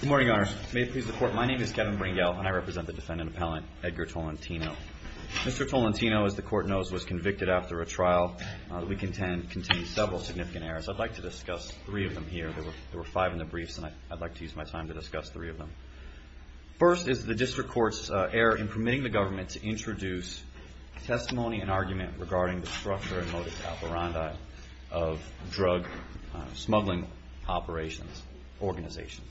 Good morning, Your Honor. May it please the Court, my name is Kevin Bringell, and I represent the defendant appellant, Edgar Tolentino. Mr. Tolentino, as the Court knows, was convicted after a trial that we contend continues several significant errors. I'd like to discuss three of them here. There were five in the briefs, and I'd like to use my time to discuss three of them. First is the District Court's error in permitting the government to introduce testimony and argument regarding the structure and motive of drug smuggling operations, organizations.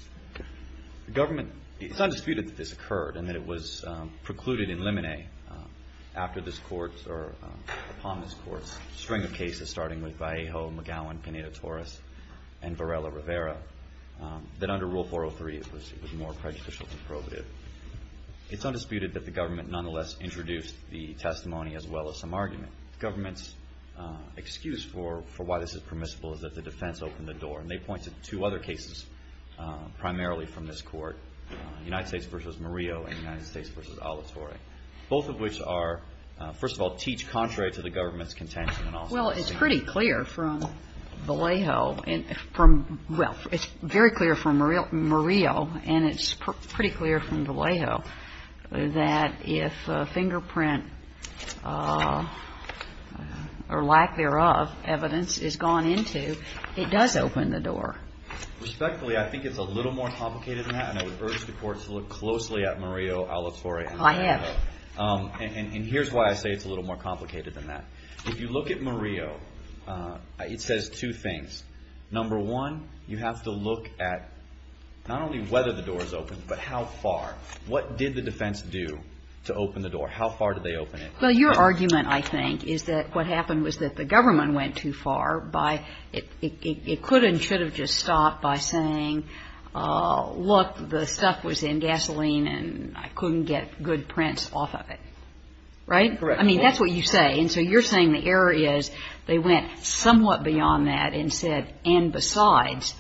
It's undisputed that this occurred and that it was precluded in limine upon this Court's string of cases, starting with Vallejo, McGowan, Pineda-Torres, and Varela-Rivera, that under Rule 403 it was more prejudicial than probative. It's undisputed that the government nonetheless introduced the testimony as well as some argument. The government's excuse for why this is permissible is that the defense opened the door. And they pointed to two other cases primarily from this Court, United States v. Murillo and United States v. Alatorre, both of which are, first of all, teach contrary to the government's contention. Well, it's pretty clear from Vallejo and from, well, it's very clear from Murillo, and it's pretty clear from Vallejo, that if fingerprint, or lack thereof, evidence is gone into, it does open the door. Respectfully, I think it's a little more complicated than that, and I would urge the courts to look closely at Murillo, Alatorre. I have. And here's why I say it's a little more complicated than that. If you look at Murillo, it says two things. Number one, you have to look at not only whether the door is open, but how far. What did the defense do to open the door? How far did they open it? Well, your argument, I think, is that what happened was that the government went too far by it could and should have just stopped by saying, look, the stuff was in gasoline and I couldn't get good prints off of it. Right? Correct. That's what you say, and so you're saying the error is they went somewhat beyond that and said, and besides,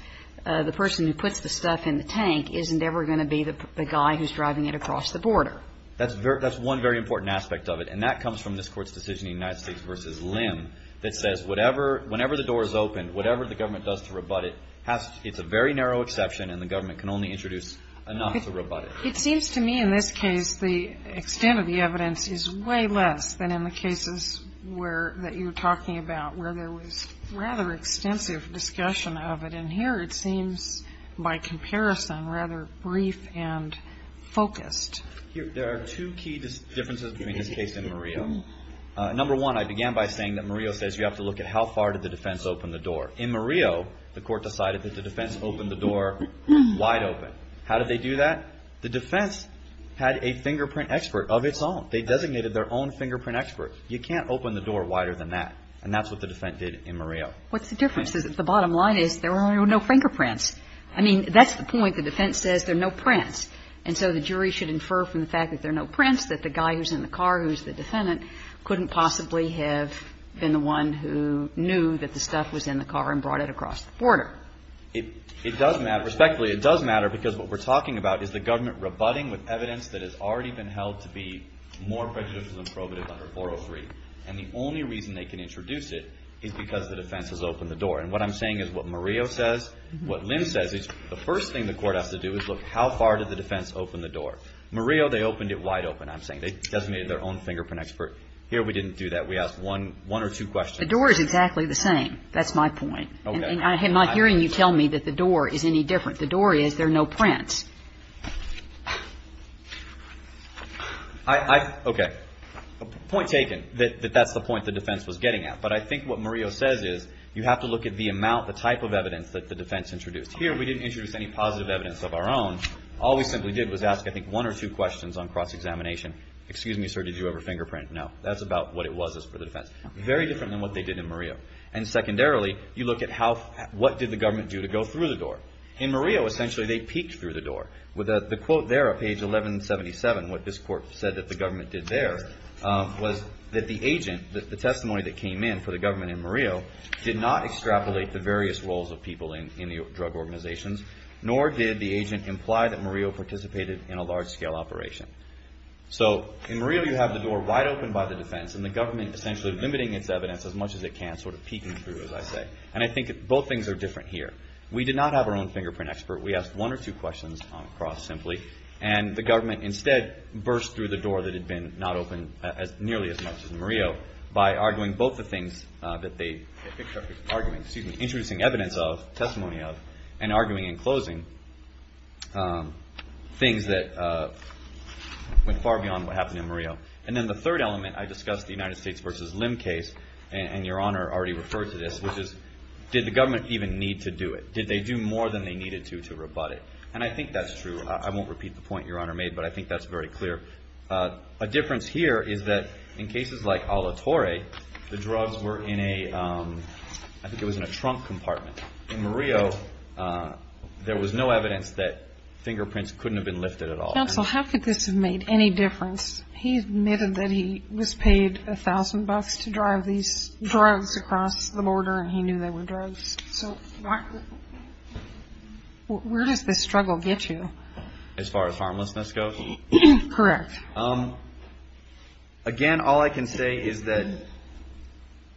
the person who puts the stuff in the tank isn't ever going to be the guy who's driving it across the border. That's one very important aspect of it, and that comes from this Court's decision in United States v. Lim that says whenever the door is open, whatever the government does to rebut it, it's a very narrow exception, and the government can only introduce enough to rebut it. It seems to me in this case the extent of the evidence is way less than in the cases that you're talking about where there was rather extensive discussion of it, and here it seems by comparison rather brief and focused. There are two key differences between this case and Murillo. Number one, I began by saying that Murillo says you have to look at how far did the defense open the door. In Murillo, the Court decided that the defense opened the door wide open. How did they do that? The defense had a fingerprint expert of its own. They designated their own fingerprint expert. You can't open the door wider than that, and that's what the defense did in Murillo. What's the difference? The bottom line is there were no fingerprints. I mean, that's the point. The defense says there are no prints, and so the jury should infer from the fact that there are no prints that the guy who's in the car who's the defendant couldn't possibly have been the one who knew that the stuff was in the car and brought it across the border. It does matter. Respectfully, it does matter because what we're talking about is the government rebutting with evidence that has already been held to be more prejudicial than probative under 403. And the only reason they can introduce it is because the defense has opened the door. And what I'm saying is what Murillo says, what Lynn says is the first thing the Court has to do is look how far did the defense open the door. Murillo, they opened it wide open, I'm saying. They designated their own fingerprint expert. Here we didn't do that. We asked one or two questions. The door is exactly the same. That's my point. Okay. And I'm not hearing you tell me that the door is any different. The door is there are no prints. Okay. Point taken that that's the point the defense was getting at. But I think what Murillo says is you have to look at the amount, the type of evidence that the defense introduced. Here we didn't introduce any positive evidence of our own. All we simply did was ask I think one or two questions on cross-examination. Excuse me, sir, did you have a fingerprint? No. That's about what it was for the defense. Very different than what they did in Murillo. And secondarily, you look at what did the government do to go through the door. In Murillo, essentially, they peeked through the door. The quote there at page 1177, what this court said that the government did there, was that the agent, the testimony that came in for the government in Murillo, did not extrapolate the various roles of people in the drug organizations, nor did the agent imply that Murillo participated in a large-scale operation. So in Murillo, you have the door wide open by the defense, and the government essentially limiting its evidence as much as it can, sort of peeking through, as I say. And I think both things are different here. We did not have our own fingerprint expert. We asked one or two questions on cross simply, and the government instead burst through the door that had been not open nearly as much as Murillo by arguing both the things that they, excuse me, introducing evidence of, testimony of, and arguing in closing things that went far beyond what happened in Murillo. And then the third element, I discussed the United States versus Lim case, and Your Honor already referred to this, which is did the government even need to do it? Did they do more than they needed to to rebut it? And I think that's true. I won't repeat the point Your Honor made, but I think that's very clear. A difference here is that in cases like Alatorre, the drugs were in a, I think it was in a trunk compartment. In Murillo, there was no evidence that fingerprints couldn't have been lifted at all. Counsel, how could this have made any difference? He admitted that he was paid $1,000 to drive these drugs across the border, and he knew they were drugs. So where does this struggle get you? As far as harmlessness goes? Correct. Again, all I can say is that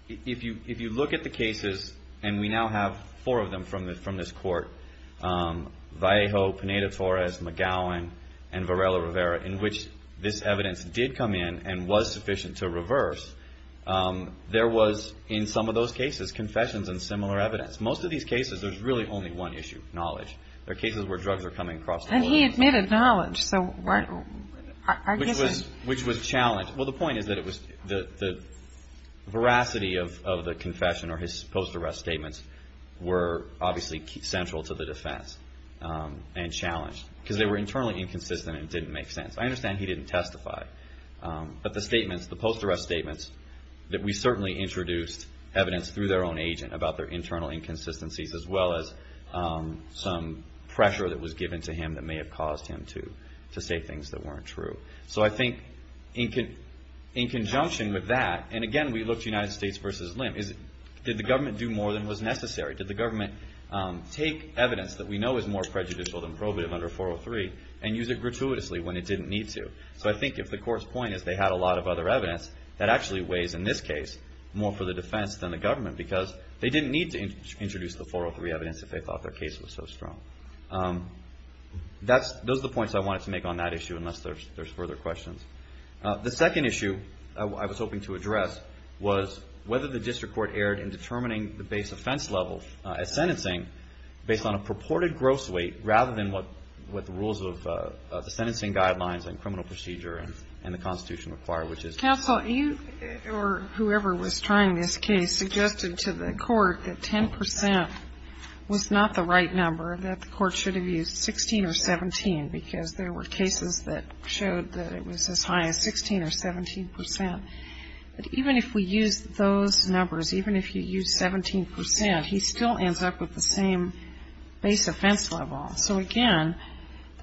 if you look at the cases, and we now have four of them from this court, Vallejo, Pineda-Torres, McGowan, and Varela-Rivera, in which this evidence did come in and was sufficient to reverse, there was, in some of those cases, confessions and similar evidence. Most of these cases, there's really only one issue, knowledge. There are cases where drugs are coming across the border. And he admitted knowledge. Which was challenged. Well, the point is that the veracity of the confession or his post-arrest statements were obviously central to the defense and challenged, because they were internally inconsistent and didn't make sense. I understand he didn't testify. But the statements, the post-arrest statements, that we certainly introduced evidence through their own agent about their internal inconsistencies, as well as some pressure that was given to him that may have caused him to say things that weren't true. So I think in conjunction with that, and again, we looked at United States v. Lim, did the government do more than was necessary? Did the government take evidence that we know is more prejudicial than probative under 403 and use it gratuitously when it didn't need to? So I think if the court's point is they had a lot of other evidence, that actually weighs, in this case, more for the defense than the government. Because they didn't need to introduce the 403 evidence if they thought their case was so strong. Those are the points I wanted to make on that issue, unless there's further questions. The second issue I was hoping to address was whether the district court erred in determining the base offense level at sentencing based on a purported gross weight rather than what the rules of the sentencing guidelines and criminal procedure and the Constitution require, which is Counsel, you or whoever was trying this case suggested to the court that 10 percent was not the right number, that the court should have used 16 or 17, because there were cases that showed that it was as high as 16 or 17 percent. But even if we used those numbers, even if you used 17 percent, he still ends up with the same base offense level. So, again,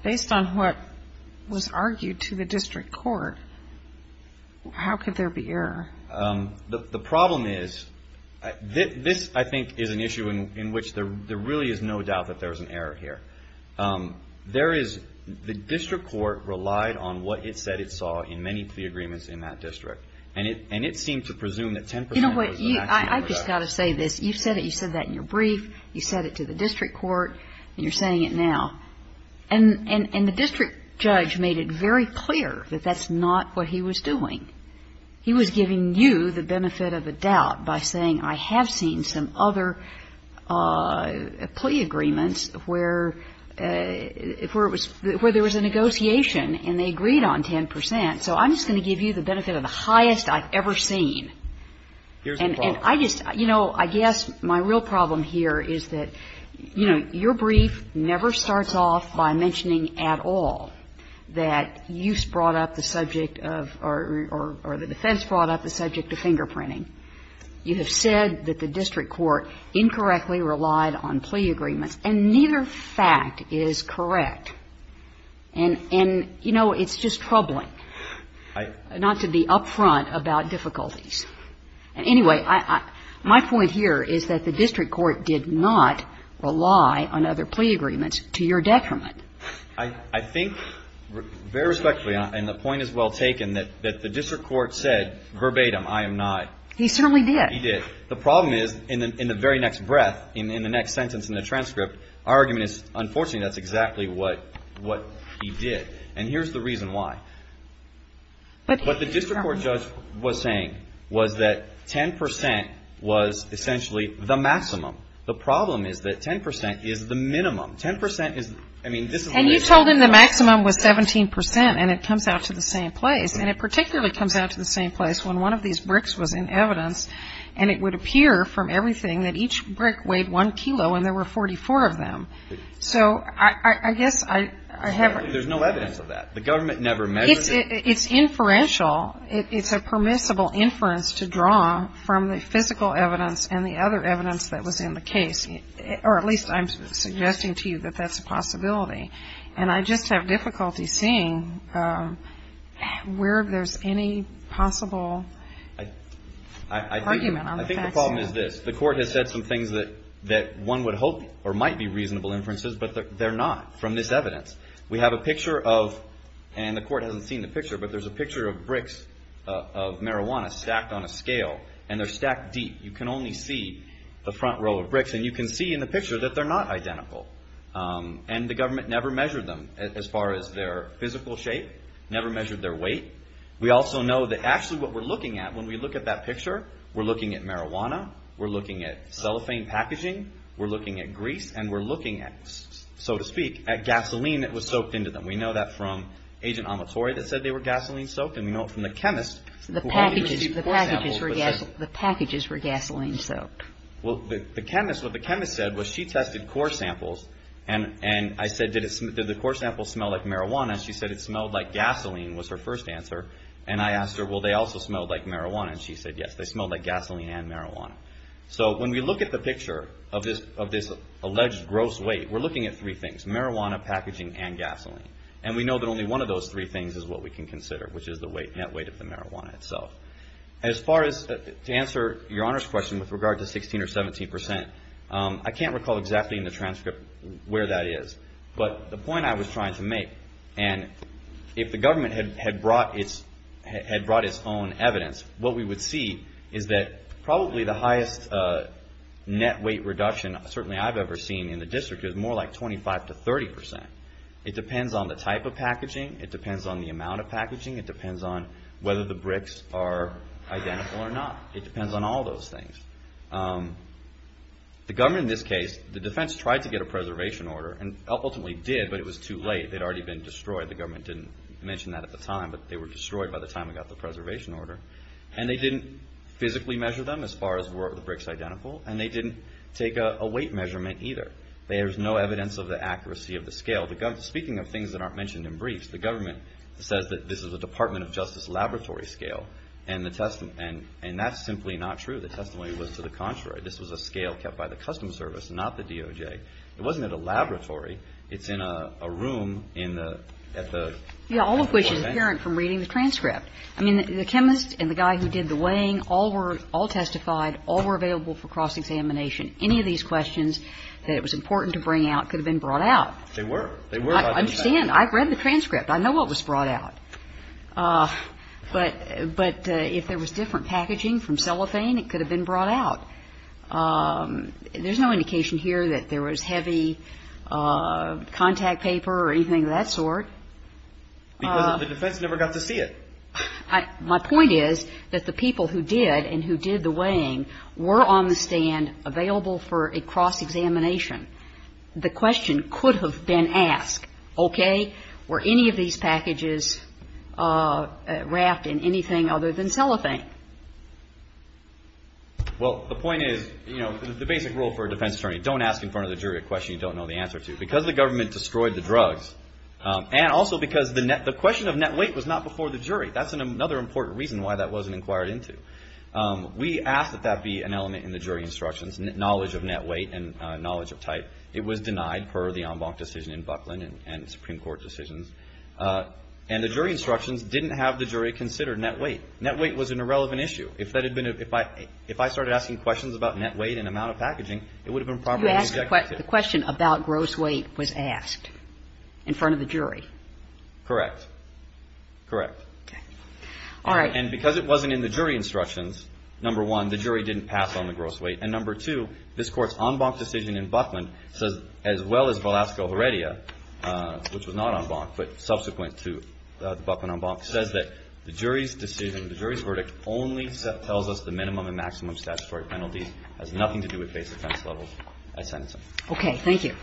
based on what was argued to the district court, how could there be error? The problem is this, I think, is an issue in which there really is no doubt that there was an error here. There is the district court relied on what it said it saw in many plea agreements in that district, and it seemed to presume that 10 percent was the actual correct. You know what? I've just got to say this. You said it. You said that in your brief. You said it to the district court, and you're saying it now. And the district judge made it very clear that that's not what he was doing. He was giving you the benefit of the doubt by saying I have seen some other plea agreements where it was – where there was a negotiation and they agreed on 10 percent. So I'm just going to give you the benefit of the highest I've ever seen. And I just – you know, I guess my real problem here is that, you know, your brief never starts off by mentioning at all that you brought up the subject of – or the defense brought up the subject of fingerprinting. You have said that the district court incorrectly relied on plea agreements, and neither fact is correct. And, you know, it's just troubling not to be up front about difficulties. Anyway, my point here is that the district court did not rely on other plea agreements to your detriment. I think very respectfully, and the point is well taken, that the district court said verbatim I am not. He certainly did. He did. The problem is in the very next breath, in the next sentence in the transcript, our argument is unfortunately that's exactly what he did. And here's the reason why. What the district court judge was saying was that 10% was essentially the maximum. The problem is that 10% is the minimum. 10% is – I mean, this is the reason. And you told him the maximum was 17%, and it comes out to the same place. And it particularly comes out to the same place when one of these bricks was in evidence, and it would appear from everything that each brick weighed one kilo, and there were 44 of them. So I guess I have – There's no evidence of that. The government never measured it. It's inferential. It's a permissible inference to draw from the physical evidence and the other evidence that was in the case. Or at least I'm suggesting to you that that's a possibility. And I just have difficulty seeing where there's any possible argument on the facts. I think the problem is this. The court has said some things that one would hope or might be reasonable inferences, but they're not from this evidence. We have a picture of – and the court hasn't seen the picture, but there's a picture of bricks of marijuana stacked on a scale, and they're stacked deep. You can only see the front row of bricks, and you can see in the picture that they're not identical. And the government never measured them as far as their physical shape, never measured their weight. We also know that actually what we're looking at when we look at that picture, we're looking at marijuana, we're looking at cellophane packaging, we're looking at grease, and we're looking at, so to speak, at gasoline that was soaked into them. We know that from Agent Amatori that said they were gasoline-soaked, and we know it from the chemist. The packages were gasoline-soaked. Well, the chemist – what the chemist said was she tested core samples, and I said, did the core samples smell like marijuana? She said it smelled like gasoline was her first answer. And I asked her, well, they also smelled like marijuana? And she said, yes, they smelled like gasoline and marijuana. So when we look at the picture of this alleged gross weight, we're looking at three things, marijuana, packaging, and gasoline. And we know that only one of those three things is what we can consider, which is the net weight of the marijuana itself. As far as to answer Your Honor's question with regard to 16% or 17%, I can't recall exactly in the transcript where that is. But the point I was trying to make, and if the government had brought its own evidence, what we would see is that probably the highest net weight reduction certainly I've ever seen in the district is more like 25% to 30%. It depends on the type of packaging. It depends on the amount of packaging. It depends on whether the bricks are identical or not. It depends on all those things. The government in this case, the defense tried to get a preservation order, and ultimately did, but it was too late. They'd already been destroyed. The government didn't mention that at the time, but they were destroyed by the time it got the preservation order. And they didn't physically measure them as far as were the bricks identical, and they didn't take a weight measurement either. There's no evidence of the accuracy of the scale. Speaking of things that aren't mentioned in briefs, the government says that this is a Department of Justice laboratory scale, and that's simply not true. The testimony was to the contrary. This was a scale kept by the Customs Service, not the DOJ. It wasn't at a laboratory. It's in a room at the… Yeah, all of which is apparent from reading the transcript. I mean, the chemist and the guy who did the weighing all testified, all were available for cross-examination. Any of these questions that it was important to bring out could have been brought out. They were. I understand. I've read the transcript. I know what was brought out. But if there was different packaging from cellophane, it could have been brought out. There's no indication here that there was heavy contact paper or anything of that sort. Because the defense never got to see it. My point is that the people who did and who did the weighing were on the stand available for a cross-examination. The question could have been asked, okay, were any of these packages wrapped in anything other than cellophane? Well, the point is, you know, the basic rule for a defense attorney, don't ask in front of the jury a question you don't know the answer to. Because the government destroyed the drugs and also because the question of net weight was not before the jury. That's another important reason why that wasn't inquired into. We asked that that be an element in the jury instructions, knowledge of net weight and knowledge of type. It was denied per the en banc decision in Buckland and Supreme Court decisions. And the jury instructions didn't have the jury consider net weight. Net weight was an irrelevant issue. If that had been a – if I started asking questions about net weight and amount of packaging, it would have been properly injected. You asked – the question about gross weight was asked in front of the jury. Correct. Correct. Okay. All right. And because it wasn't in the jury instructions, number one, the jury didn't pass on the gross weight. And number two, this Court's en banc decision in Buckland says, as well as Velasco-Heredia, which was not en banc, but subsequent to the Buckland en banc, says that the jury's decision, the jury's verdict only tells us the minimum and maximum statutory penalty. It has nothing to do with base offense levels. I sign this one. Okay. Thank you.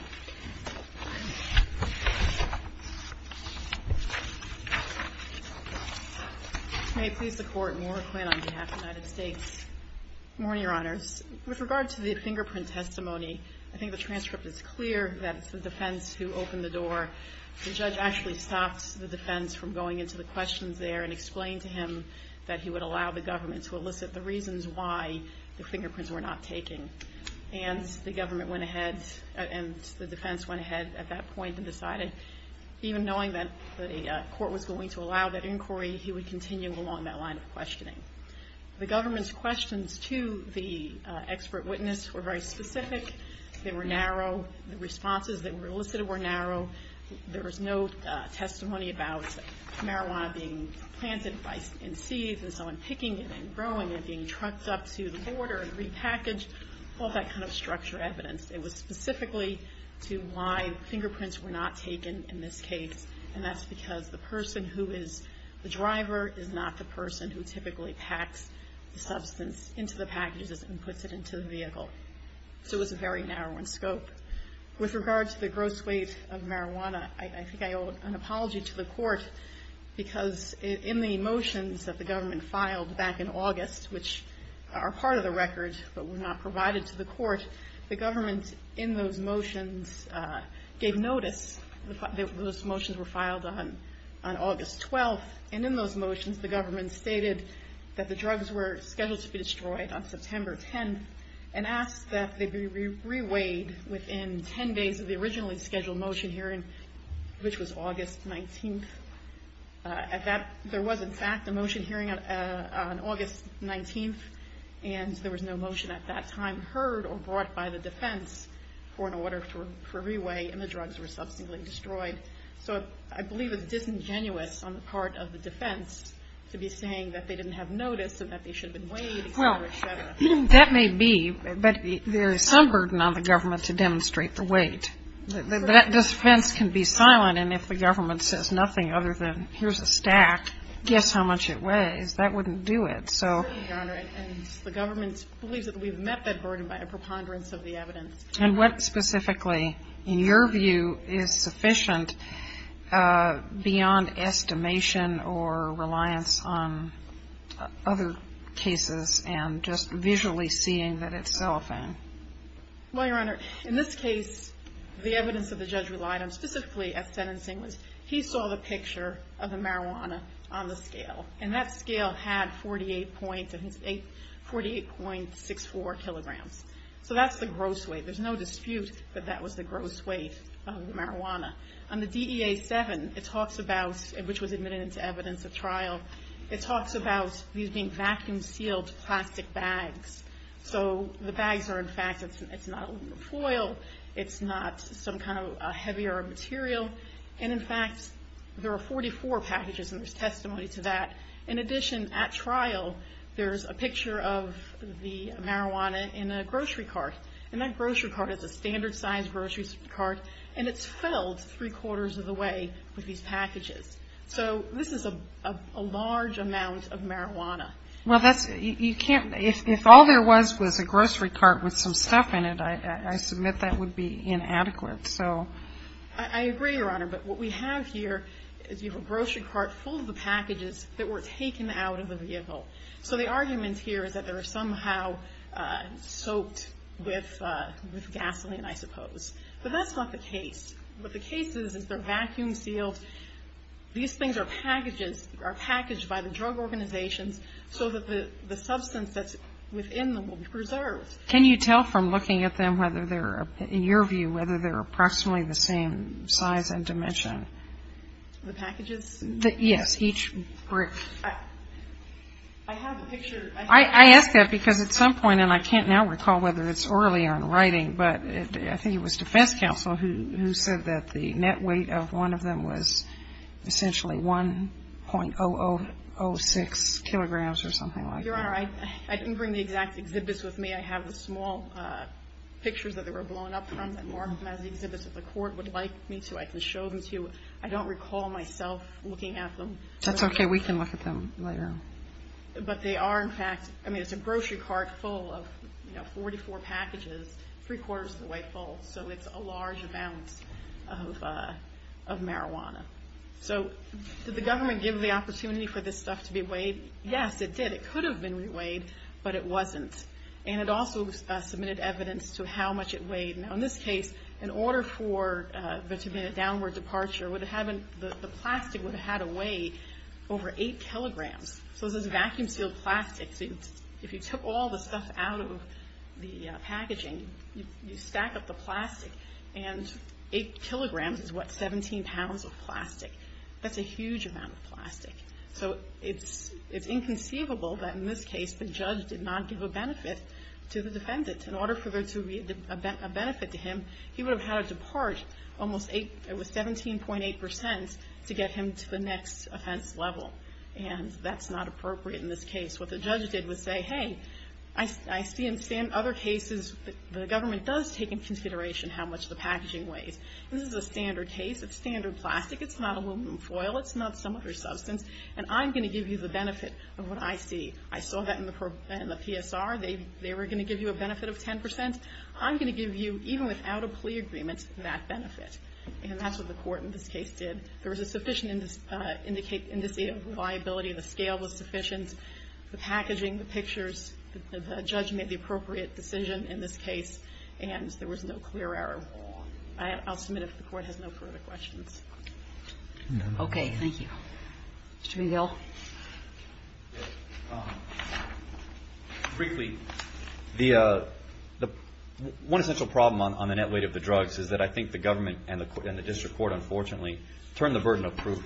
May I please support Moore Quinn on behalf of the United States? Good morning, Your Honors. With regard to the fingerprint testimony, I think the transcript is clear that it's the defense who opened the door. The judge actually stopped the defense from going into the questions there and explained to him that he would allow the government to elicit the reasons why the fingerprints were not taken. And the government went ahead, and the defense went ahead at that point and decided, even knowing that the court was going to allow that inquiry, he would continue along that line of questioning. The government's questions to the expert witness were very specific. They were narrow. The responses that were elicited were narrow. There was no testimony about marijuana being planted and seized and someone picking it and growing it, being trucked up to the border and repackaged, all that kind of structured evidence. It was specifically to why fingerprints were not taken in this case, and that's because the person who is the driver is not the person who typically packs the substance into the packages and puts it into the vehicle. So it was a very narrow in scope. With regard to the gross weight of marijuana, I think I owe an apology to the court because in the motions that the government filed back in August, which are part of the record but were not provided to the court, the government in those motions gave notice that those motions were filed on August 12th, and in those motions the government stated that the drugs were scheduled to be destroyed on September 10th and asked that they be reweighed within 10 days of the originally scheduled motion hearing, which was August 19th. There was, in fact, a motion hearing on August 19th, and there was no motion at that time heard or brought by the defense for an order for reweigh, and the drugs were subsequently destroyed. So I believe it's disingenuous on the part of the defense to be saying that they didn't have notice and that they should have been weighed. Well, that may be, but there is some burden on the government to demonstrate the weight. That defense can be silent, and if the government says nothing other than here's a stack, guess how much it weighs. That wouldn't do it. And the government believes that we've met that burden by a preponderance of the evidence. And what specifically, in your view, is sufficient beyond estimation or reliance on other cases and just visually seeing that it's cellophane? Well, Your Honor, in this case, the evidence that the judge relied on, specifically at sentencing, was he saw the picture of the marijuana on the scale, and that scale had 48.64 kilograms. So that's the gross weight. There's no dispute that that was the gross weight of the marijuana. On the DEA-7, it talks about, which was admitted into evidence at trial, it talks about these being vacuum-sealed plastic bags. So the bags are, in fact, it's not aluminum foil. It's not some kind of heavier material. And, in fact, there are 44 packages, and there's testimony to that. In addition, at trial, there's a picture of the marijuana in a grocery cart, and that grocery cart is a standard-sized grocery cart, and it's filled three-quarters of the way with these packages. So this is a large amount of marijuana. Well, that's you can't – if all there was was a grocery cart with some stuff in it, I submit that would be inadequate. I agree, Your Honor. But what we have here is we have a grocery cart full of the packages that were taken out of the vehicle. So the argument here is that they were somehow soaked with gasoline, I suppose. But that's not the case. What the case is, is they're vacuum-sealed. These things are packaged by the drug organizations Can you tell from looking at them whether they're, in your view, whether they're approximately the same size and dimension? The packages? Yes, each brick. I have a picture. I ask that because at some point, and I can't now recall whether it's orally or in writing, but I think it was defense counsel who said that the net weight of one of them was essentially 1.0006 kilograms or something like that. Your Honor, I didn't bring the exact exhibits with me. I have the small pictures that they were blown up from. I marked them as exhibits that the court would like me to. I can show them to you. I don't recall myself looking at them. That's okay. We can look at them later. But they are, in fact – I mean, it's a grocery cart full of 44 packages, three-quarters of the way full. So it's a large amount of marijuana. So did the government give the opportunity for this stuff to be weighed? Yes, it did. It could have been re-weighed, but it wasn't. And it also submitted evidence to how much it weighed. Now, in this case, in order for there to be a downward departure, the plastic would have had to weigh over 8 kilograms. So this is vacuum-sealed plastic. If you took all the stuff out of the packaging, you stack up the plastic, and 8 kilograms is, what, 17 pounds of plastic. That's a huge amount of plastic. So it's inconceivable that, in this case, the judge did not give a benefit to the defendant. In order for there to be a benefit to him, he would have had to depart almost – it was 17.8 percent to get him to the next offense level. And that's not appropriate in this case. What the judge did was say, hey, I see in other cases the government does take into consideration how much the packaging weighs. This is a standard case. It's standard plastic. It's not aluminum foil. It's not some other substance. And I'm going to give you the benefit of what I see. I saw that in the PSR. They were going to give you a benefit of 10 percent. I'm going to give you, even without a plea agreement, that benefit. And that's what the court in this case did. There was a sufficient index of liability. The scale was sufficient. The packaging, the pictures, the judge made the appropriate decision in this case. And there was no clear error. I'll submit it if the court has no further questions. Okay. Thank you. Mr. McGill. Briefly, one essential problem on the net weight of the drugs is that I think the government and the district court, unfortunately, turned the burden of proof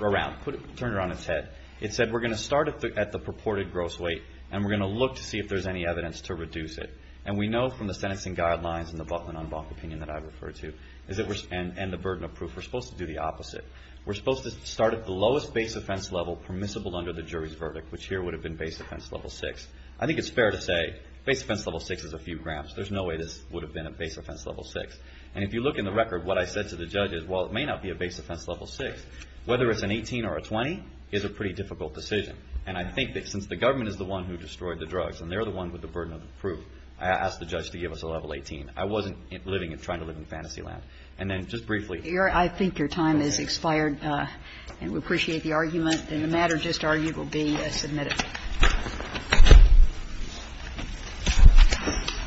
around, turned it on its head. It said we're going to start at the purported gross weight, and we're going to look to see if there's any evidence to reduce it. And we know from the sentencing guidelines and the Buckman on Buck opinion that I refer to, and the burden of proof, we're supposed to do the opposite. We're supposed to start at the lowest base offense level permissible under the jury's verdict, which here would have been base offense level six. I think it's fair to say base offense level six is a few grams. There's no way this would have been a base offense level six. And if you look in the record, what I said to the judge is, well, it may not be a base offense level six. Whether it's an 18 or a 20 is a pretty difficult decision. And I think that since the government is the one who destroyed the drugs and they're the one with the burden of proof, I asked the judge to give us a level 18. I wasn't living and trying to live in fantasy land. And then just briefly. Kagan. I think your time has expired. And we appreciate the argument. And the matter just argued will be submitted.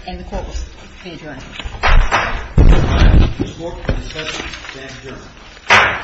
And the Court was adjourned. The Court is adjourned. Thank you. Thank you.